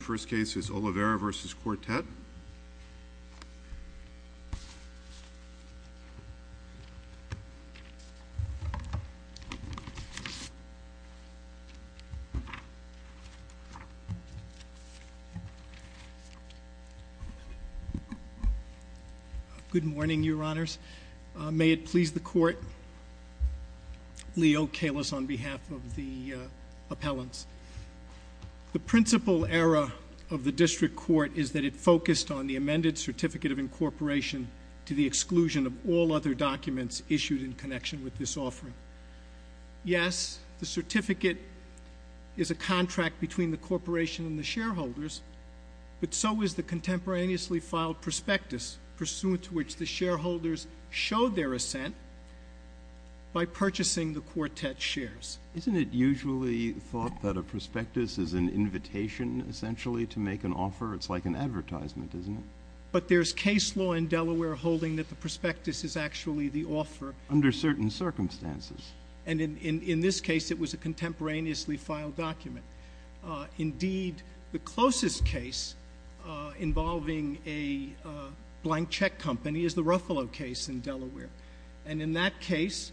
First case is Olivera v. Quartet Good morning, Your Honors. May it please the Court. The purpose of the District Court is that it focused on the amended Certificate of Incorporation to the exclusion of all other documents issued in connection with this offering. Yes, the certificate is a contract between the corporation and the shareholders, but so is the contemporaneously filed prospectus pursuant to which the shareholders showed their assent by purchasing the Quartet's shares. Isn't it usually thought that a prospectus is an invitation, essentially, to make an offer? It's like an advertisement, isn't it? But there's case law in Delaware holding that the prospectus is actually the offer. Under certain circumstances. And in this case, it was a contemporaneously filed document. Indeed, the closest case involving a blank check company is the Ruffalo case in Delaware. And in that case,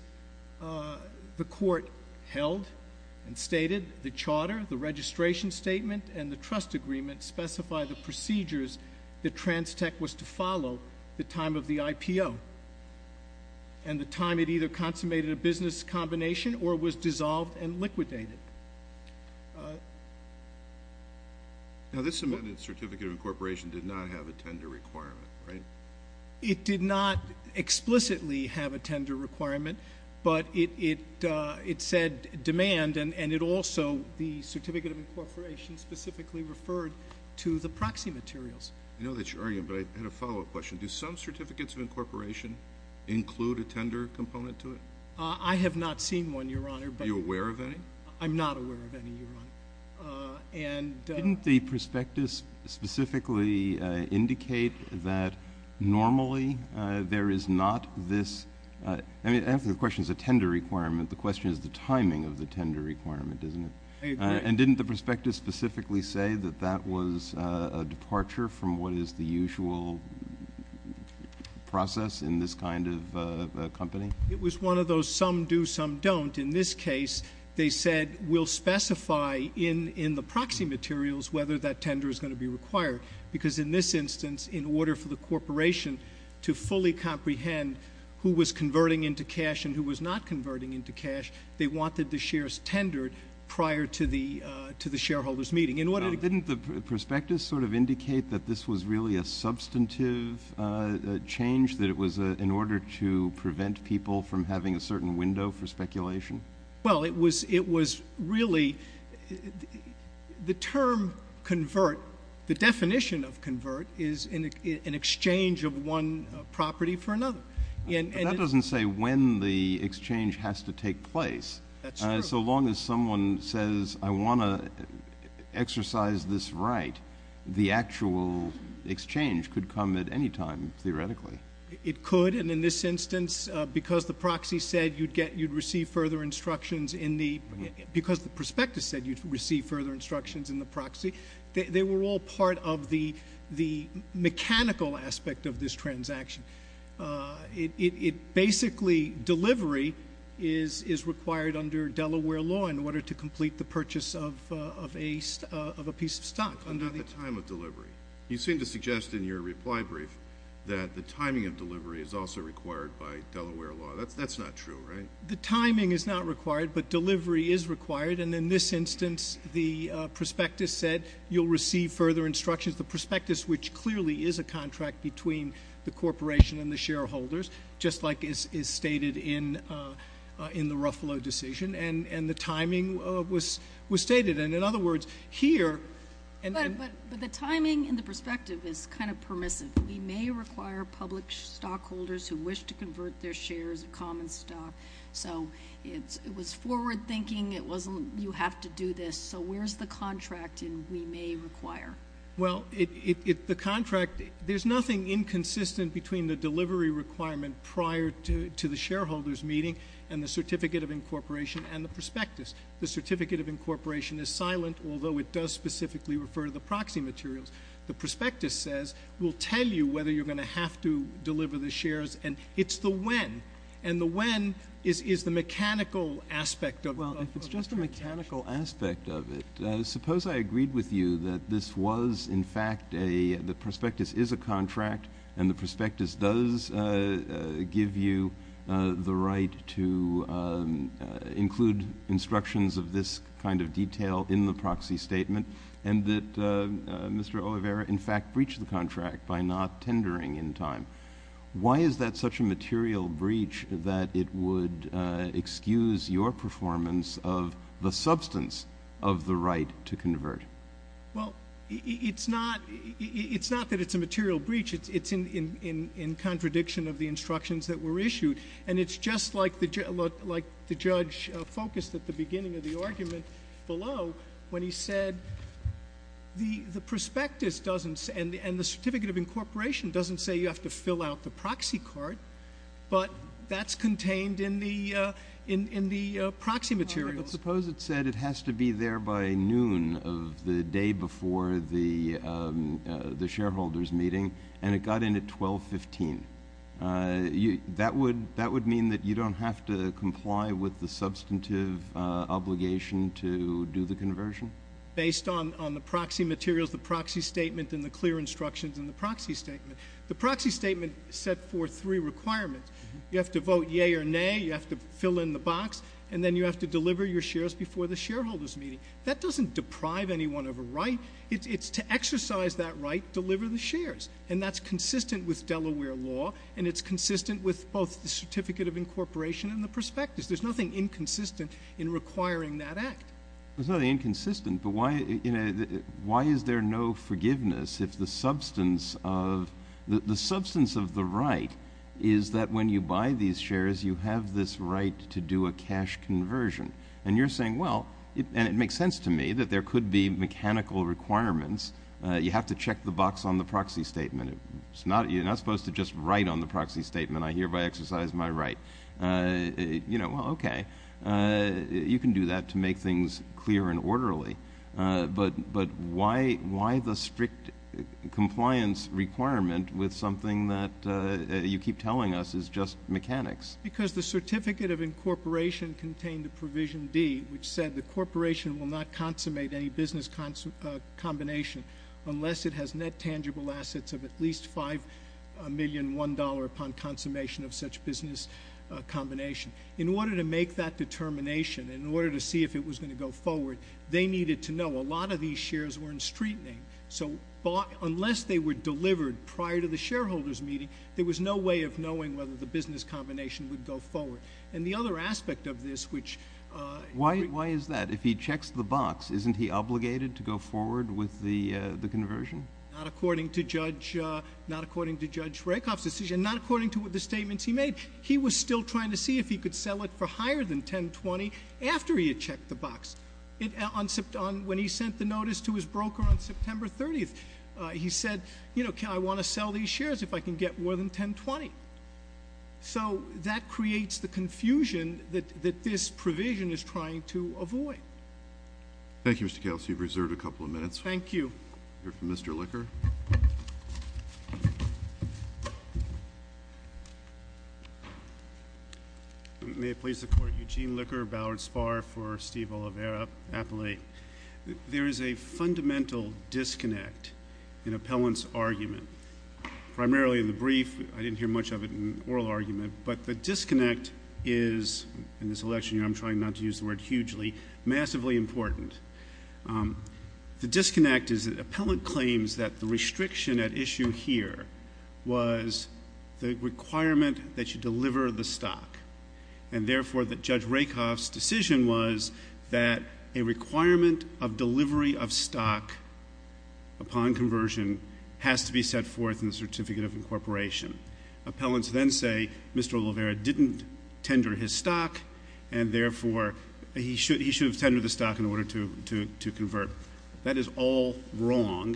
the Court held and stated the charter, the registration statement, and the trust agreement specify the procedures that Transtech was to follow the time of the IPO and the time it either consummated a business combination or was dissolved and liquidated. This amended Certificate of Incorporation did not have a tender requirement, right? It did not explicitly have a tender requirement, but it said demand, and it also, the Certificate of Incorporation specifically referred to the proxy materials. I know that's your argument, but I had a follow-up question. Do some Certificates of Incorporation include a tender component to it? I have not seen one, Your Honor. Are you aware of any? I'm not aware of any, Your Honor. Didn't the prospectus specifically indicate that normally there is not this? I mean, I don't think the question is a tender requirement. The question is the timing of the tender requirement, isn't it? I agree. And didn't the prospectus specifically say that that was a departure from what is the usual process in this kind of company? It was one of those some do, some don't. In this case, they said we'll specify in the proxy materials whether that tender is going to be required, because in this instance, in order for the corporation to fully comprehend who was converting into cash and who was not converting into cash, they wanted the shares tendered prior to the shareholders' meeting. Didn't the prospectus sort of indicate that this was really a substantive change, that it was in order to prevent people from having a certain window for speculation? Well, it was really the term convert, the definition of convert is an exchange of one property for another. But that doesn't say when the exchange has to take place. That's true. So long as someone says, I want to exercise this right, the actual exchange could come at any time, theoretically. It could, and in this instance, because the proxy said you'd get, you'd receive further instructions in the, because the prospectus said you'd receive further instructions in the proxy, they were all part of the mechanical aspect of this transaction. It basically, delivery is required under Delaware law in order to complete the purchase of a piece of stock. Under the time of delivery. You seem to suggest in your reply brief that the timing of delivery is also required by Delaware law. That's not true, right? The timing is not required, but delivery is required, and in this instance, the prospectus said you'll receive further instructions. The prospectus, which clearly is a contract between the corporation and the shareholders, just like is stated in the Ruffalo decision, and the timing was stated. And in other words, here— But the timing and the perspective is kind of permissive. We may require public stockholders who wish to convert their shares of common stock. So it was forward thinking. It wasn't, you have to do this. So where's the contract in we may require? Well, the contract, there's nothing inconsistent between the delivery requirement prior to the shareholders meeting and the certificate of incorporation and the prospectus. The certificate of incorporation is silent, although it does specifically refer to the proxy materials. The prospectus says, we'll tell you whether you're going to have to deliver the shares, and it's the when. And the when is the mechanical aspect of— Well, it's just the mechanical aspect of it. Suppose I agreed with you that this was in fact a, the prospectus is a contract, and the prospectus does give you the right to include instructions of this kind of detail in the proxy statement, and that Mr. Oliveira, in fact, breached the contract by not tendering in time. Why is that such a material breach that it would excuse your performance of the substance of the right to convert? Well, it's not that it's a material breach. It's in contradiction of the instructions that were issued. And it's just like the judge focused at the beginning of the argument below when he said the prospectus doesn't, and the certificate of incorporation doesn't say you have to fill out the proxy card, but that's contained in the proxy materials. But suppose it said it has to be there by noon of the day before the shareholders' meeting, and it got in at 12.15. That would mean that you don't have to comply with the substantive obligation to do the conversion? Based on the proxy materials, the proxy statement, and the clear instructions in the proxy statement. The proxy statement is set for three requirements. You have to vote yea or nay, you have to fill in the box, and then you have to deliver your shares before the shareholders' meeting. That doesn't deprive anyone of a right. It's to exercise that right, deliver the shares. And that's consistent with Delaware law, and it's consistent with both the certificate of incorporation and the prospectus. There's nothing inconsistent in requiring that act. There's nothing inconsistent, but why is there no forgiveness if the substance of the right is that when you buy these shares, you have this right to do a cash conversion? And you're saying, well, and it makes sense to me that there could be mechanical requirements. You have to check the box on the proxy statement. You're not supposed to just write on the proxy statement, I hereby exercise my right. You know, well, okay. You can do that to make things clear and orderly, but why the strict compliance requirement with something that you keep telling us is just mechanics? Because the certificate of incorporation contained a provision D, which said the corporation will not consummate any business combination unless it has net tangible assets of at least $5,000,001 upon consummation of such business combination. In order to make that determination, in order to see if it was going to go forward, they needed to know a lot of these shares were in street name. So unless they were delivered prior to the shareholder's meeting, there was no way of knowing whether the business combination would go forward. And the other aspect of this, which- Why is that? If he checks the box, isn't he obligated to go forward with the conversion? Not according to Judge Rakoff's decision, not according to the statements he made. He was still trying to see if he could sell it for higher than 1020 after he had checked the box. When he sent the notice to his broker on September 30th, he said, you know, I want to sell these shares if I can get more than 1020. So that creates the confusion that this provision is trying to avoid. Thank you, Mr. Kelsey. You've reserved a couple of minutes. Thank you. We'll hear from Mr. Licker. May it please the Court, Eugene Licker, Ballard Spar for Steve Oliveira, Appellate. There is a fundamental disconnect in appellant's argument. Primarily in the brief, I didn't hear much of it in oral argument, but the disconnect is in this election year, I'm trying not to use the word hugely, massively important. The disconnect is that appellant claims that the restriction at issue here was the requirement that you deliver the stock, and therefore that Judge Rakoff's decision was that a requirement of delivery of stock upon conversion has to be set forth in the Certificate of Incorporation. Appellants then say Mr. Oliveira didn't tender his stock, and therefore he should have tendered the stock in order to convert. That is all wrong,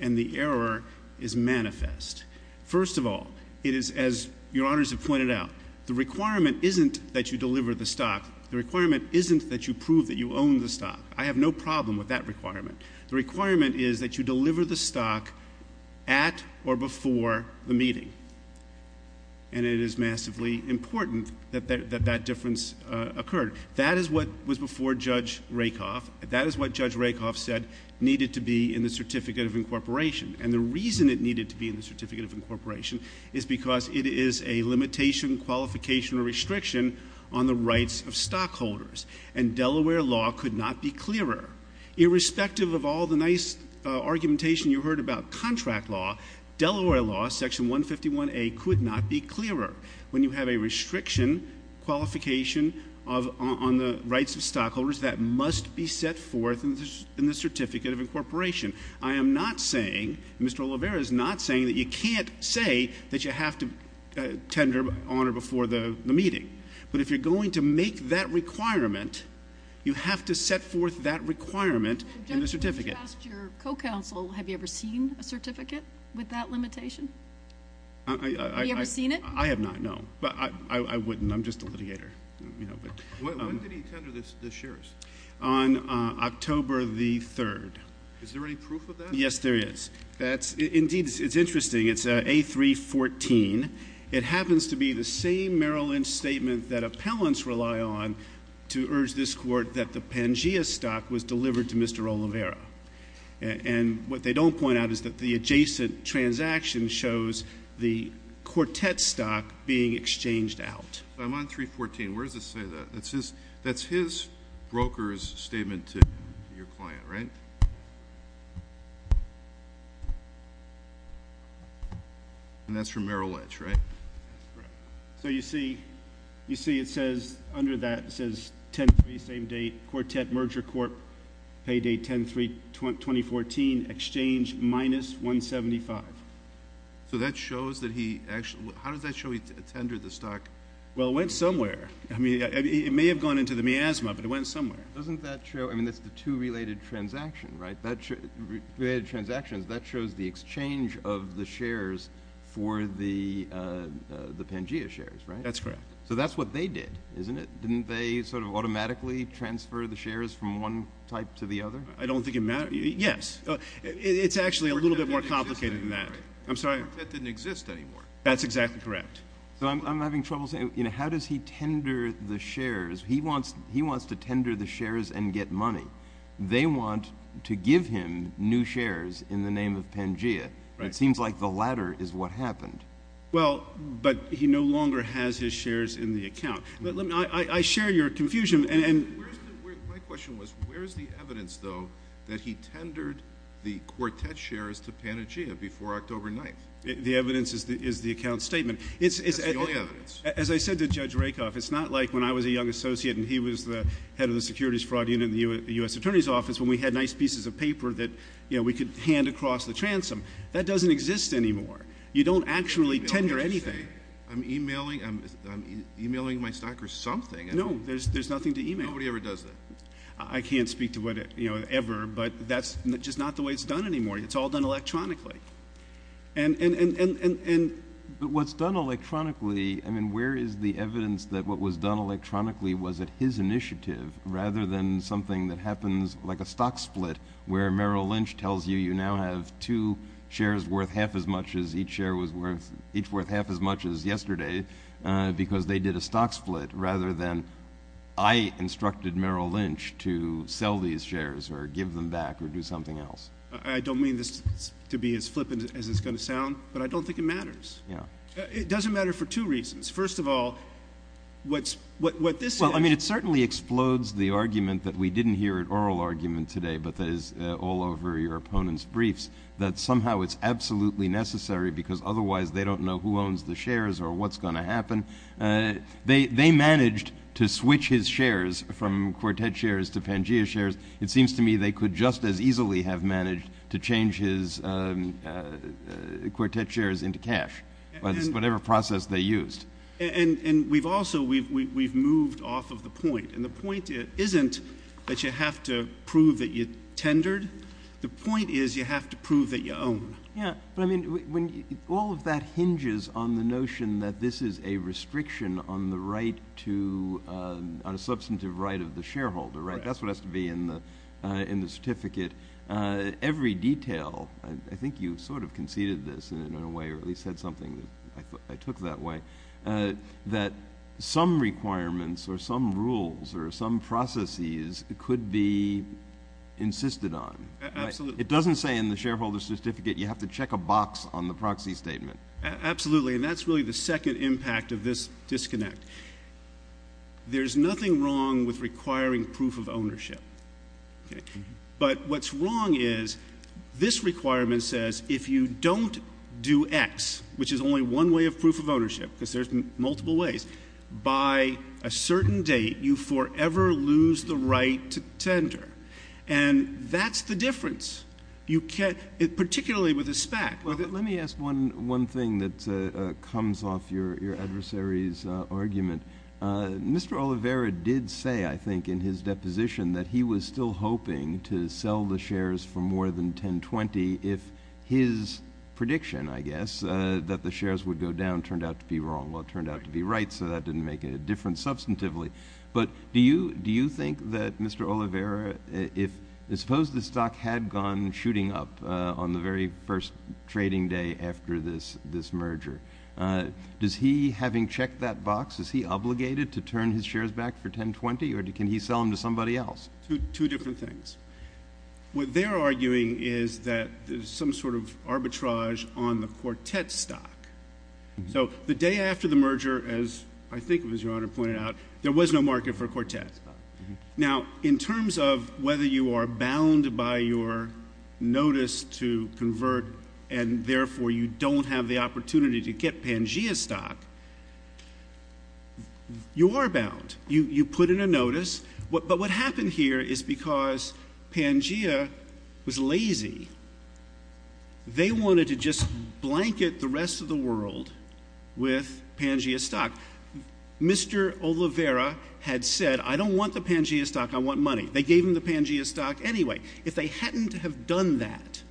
and the error is manifest. First of all, it is, as Your Honors have pointed out, the requirement isn't that you deliver the stock. The requirement isn't that you prove that you own the stock. I have no problem with that requirement. The requirement is that you deliver the stock at or before the meeting, and it is massively important that that difference occurred. That is what was before Judge Rakoff. That is what Judge Rakoff said needed to be in the Certificate of Incorporation, and the reason it needed to be in the Certificate of Incorporation is because it is a limitation, qualification, or restriction on the rights of stockholders, and Delaware law could not be clearer. Irrespective of all the nice argumentation you heard about contract law, Delaware law, Section 151A could not be clearer. When you have a restriction, qualification on the rights of stockholders, that must be set forth in the Certificate of Incorporation. I am not saying, Mr. Oliveira is not saying that you can't say that you have to tender on or before the meeting, but if you're going to make that requirement, you have to set forth that requirement in the Certificate. When you asked your co-counsel, have you ever seen a certificate with that limitation? Have you ever seen it? I have not, no. But I wouldn't. I'm just a litigator. When did he tender the shares? On October the 3rd. Is there any proof of that? Yes, there is. Indeed, it's interesting. It's A314. It happens to be the same Merrill Lynch statement that appellants rely on to urge this Court that the Pangea stock was delivered to Mr. Oliveira. And what they don't point out is that the adjacent transaction shows the Quartet stock being exchanged out. I'm on A314. Where does it say that? That's his broker's statement to your client, right? And that's from Merrill Lynch, right? That's correct. So you see it says under that, it says 10-3, same date, Quartet Merger Corp., paydate 10-3-2014, exchange minus 175. So that shows that he actually—how does that show he tendered the stock? Well, it went somewhere. I mean, it may have gone into the miasma, but it went somewhere. Doesn't that show—I mean, that's the two related transactions, right? That's correct. So that's what they did, isn't it? Didn't they sort of automatically transfer the shares from one type to the other? I don't think it mattered. Yes. It's actually a little bit more complicated than that. I'm sorry? Quartet didn't exist anymore. That's exactly correct. So I'm having trouble saying, you know, how does he tender the shares? He wants to tender the shares and get money. They want to give him new shares in the name of Pangea. It seems like the latter is what happened. Well, but he no longer has his shares in the account. I share your confusion, and— My question was, where is the evidence, though, that he tendered the Quartet shares to Pangea before October 9th? The evidence is the account statement. That's the only evidence. As I said to Judge Rakoff, it's not like when I was a young associate and he was the head of the Securities Fraud Unit in the U.S. Attorney's Office, when we had nice pieces of paper that, you know, we could hand across the transom. That doesn't exist anymore. You don't actually tender anything. I'm e-mailing—I'm e-mailing my stockers something. No. There's nothing to e-mail. Nobody ever does that. I can't speak to what it, you know, ever, but that's just not the way it's done anymore. It's all done electronically. And— But what's done electronically, I mean, where is the evidence that what was done electronically was at his initiative rather than something that happens like a stock split where Merrill each share was worth—each worth half as much as yesterday because they did a stock split rather than I instructed Merrill Lynch to sell these shares or give them back or do something else? I don't mean this to be as flippant as it's going to sound, but I don't think it matters. It doesn't matter for two reasons. First of all, what's—what this— Well, I mean, it certainly explodes the argument that we didn't hear at oral argument today, but that is all over your opponents' briefs, that somehow it's absolutely necessary because otherwise they don't know who owns the shares or what's going to happen. They managed to switch his shares from Quartet shares to Pangea shares. It seems to me they could just as easily have managed to change his Quartet shares into cash by just whatever process they used. And we've also—we've moved off of the point, and the point isn't that you have to prove that you tendered. The point is you have to prove that you own. Yeah. But I mean, when—all of that hinges on the notion that this is a restriction on the right to—on a substantive right of the shareholder, right? That's what has to be in the certificate. Every detail—I think you sort of conceded this in a way or at least said something I took that way, that some requirements or some rules or some processes could be insisted on. Absolutely. It doesn't say in the shareholder's certificate you have to check a box on the proxy statement. Absolutely. And that's really the second impact of this disconnect. There's nothing wrong with requiring proof of ownership, but what's wrong is this requirement says if you don't do X, which is only one way of proof of ownership, because there's multiple ways, by a certain date, you forever lose the right to tender. And that's the difference. You can't—particularly with a SPAC. Let me ask one thing that comes off your adversary's argument. Mr. Oliveira did say, I think, in his deposition that he was still hoping to sell the shares for more than $10.20 if his prediction, I guess, that the shares would go down turned out to be wrong. Well, it turned out to be right, so that didn't make a difference substantively. But do you think that Mr. Oliveira, if—suppose the stock had gone shooting up on the very first trading day after this merger, does he, having checked that box, is he obligated to turn his shares back for $10.20, or can he sell them to somebody else? Two different things. What they're arguing is that there's some sort of arbitrage on the Quartet stock. So the day after the merger, as I think it was Your Honor pointed out, there was no market for Quartet. Now, in terms of whether you are bound by your notice to convert, and therefore you don't have the opportunity to get Pangea stock, you are bound. You put in a notice. But what happened here is because Pangea was lazy. They wanted to just blanket the rest of the world with Pangea stock. Mr. Oliveira had said, I don't want the Pangea stock, I want money. They gave him the Pangea stock anyway. If they hadn't have done that,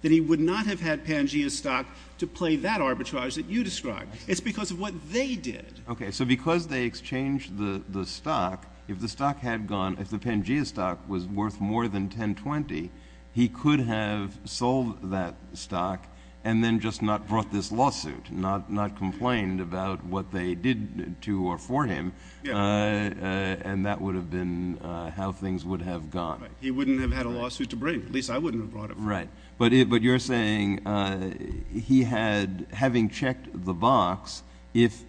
then he would not have had Pangea stock to play that arbitrage that you described. It's because of what they did. Okay. So because they exchanged the stock, if the stock had gone, if the Pangea stock was worth more than $10.20, he could have sold that stock and then just not brought this lawsuit, not complained about what they did to or for him, and that would have been how things would have gone. Right. He wouldn't have had a lawsuit to bring. At least I wouldn't have brought it. Right. But you're saying he had, having checked the box, if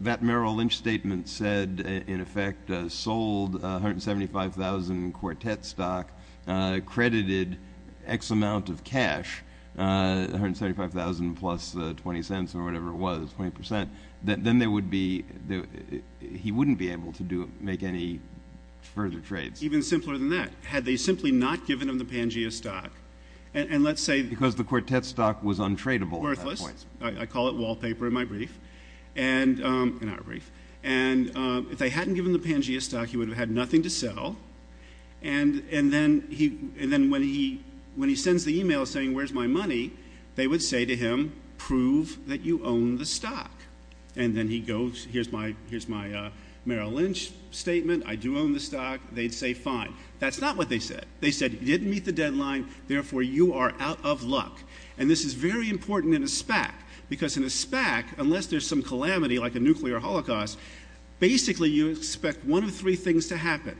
that Merrill Lynch statement said, in effect, sold $175,000 quartet stock, credited X amount of cash, $175,000 plus $0.20 or whatever it was, 20%, then there would be, he wouldn't be able to make any further trades. Even simpler than that. Had they simply not given him the Pangea stock, and let's say— Because the quartet stock was untradable at that point. Worthless. I call it wallpaper in my brief. And if they hadn't given him the Pangea stock, he would have had nothing to sell. And then when he sends the email saying, where's my money, they would say to him, prove that you own the stock. And then he goes, here's my Merrill Lynch statement. I do own the stock. They'd say, fine. That's not what they said. They said, you didn't meet the deadline, therefore you are out of luck. And this is very important in a SPAC. Because in a SPAC, unless there's some calamity, like a nuclear holocaust, basically you expect one of three things to happen.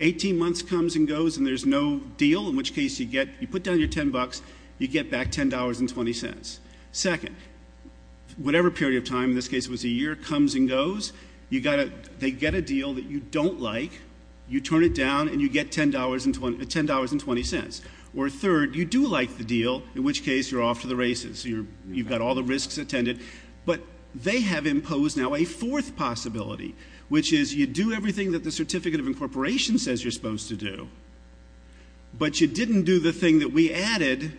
18 months comes and goes and there's no deal, in which case you get, you put down your $10, you get back $10.20. Second, whatever period of time, in this case it was a year, comes and goes, you got a, they get a deal that you don't like, you turn it down and you get $10.20. Or third, you do like the deal, in which case you're off to the races. You've got all the risks attended. But they have imposed now a fourth possibility, which is you do everything that the Certificate of Incorporation says you're supposed to do, but you didn't do the thing that we added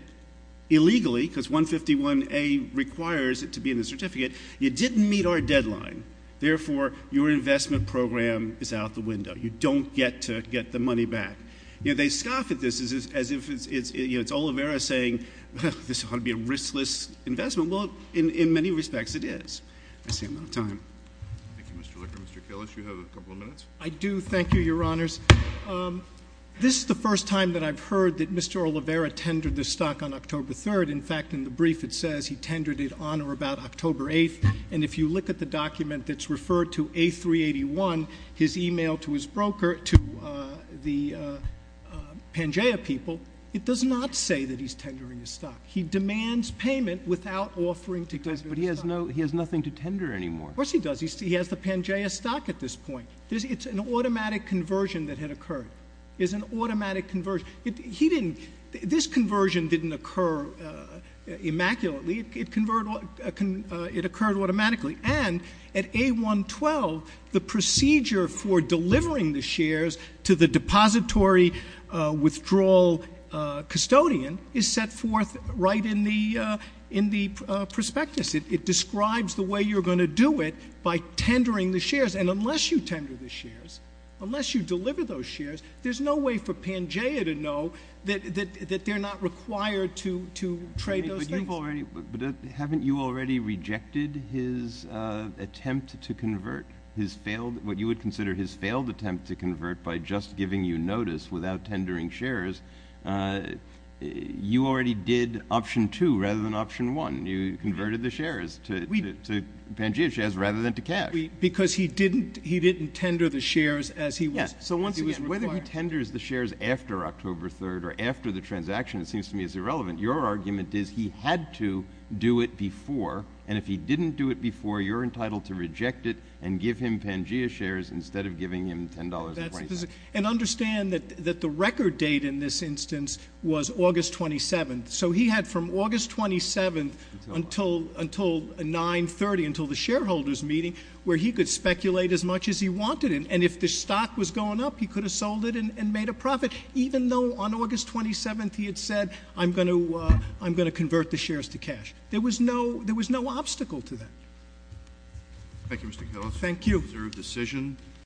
illegally, because 151A requires it to be in the certificate, you didn't meet our deadline, therefore your investment program is out the window. You don't get to get the money back. You know, they scoff at this as if it's, you know, it's Olivera saying, this is going to be a riskless investment. Well, in many respects it is. That's the amount of time. Thank you, Mr. Licker. Mr. Kellis, you have a couple of minutes. I do. Thank you, your honors. This is the first time that I've heard that Mr. Olivera tendered this stock on October 3rd. In fact, in the brief it says he tendered it on or about October 8th, and if you look at the document that's referred to A381, his email to his broker, to the Pangea people, it does not say that he's tendering the stock. He demands payment without offering to tender the stock. But he has no, he has nothing to tender anymore. Of course he does. He has the Pangea stock at this point. It's an automatic conversion that had occurred. It's an automatic conversion. He didn't, this conversion didn't occur immaculately, it occurred automatically. And at A112, the procedure for delivering the shares to the depository withdrawal custodian is set forth right in the prospectus. It describes the way you're going to do it by tendering the shares. And unless you tender the shares, unless you deliver those shares, there's no way for Pangea to know that they're not required to trade those things. But haven't you already rejected his attempt to convert his failed, what you would consider his failed attempt to convert by just giving you notice without tendering shares, you already did option two rather than option one. You converted the shares to Pangea shares rather than to cash. Because he didn't tender the shares as he was required. Whether he tenders the shares after October 3rd or after the transaction, it seems to me is irrelevant. Your argument is he had to do it before. And if he didn't do it before, you're entitled to reject it and give him Pangea shares instead of giving him $10.27. And understand that the record date in this instance was August 27th. So he had from August 27th until 930, until the shareholders meeting, where he could speculate as much as he wanted. And if the stock was going up, he could have sold it and made a profit. Even though on August 27th, he had said, I'm going to convert the shares to cash. There was no obstacle to that. Thank you, Mr. Kellogg. Thank you. Reserve decision.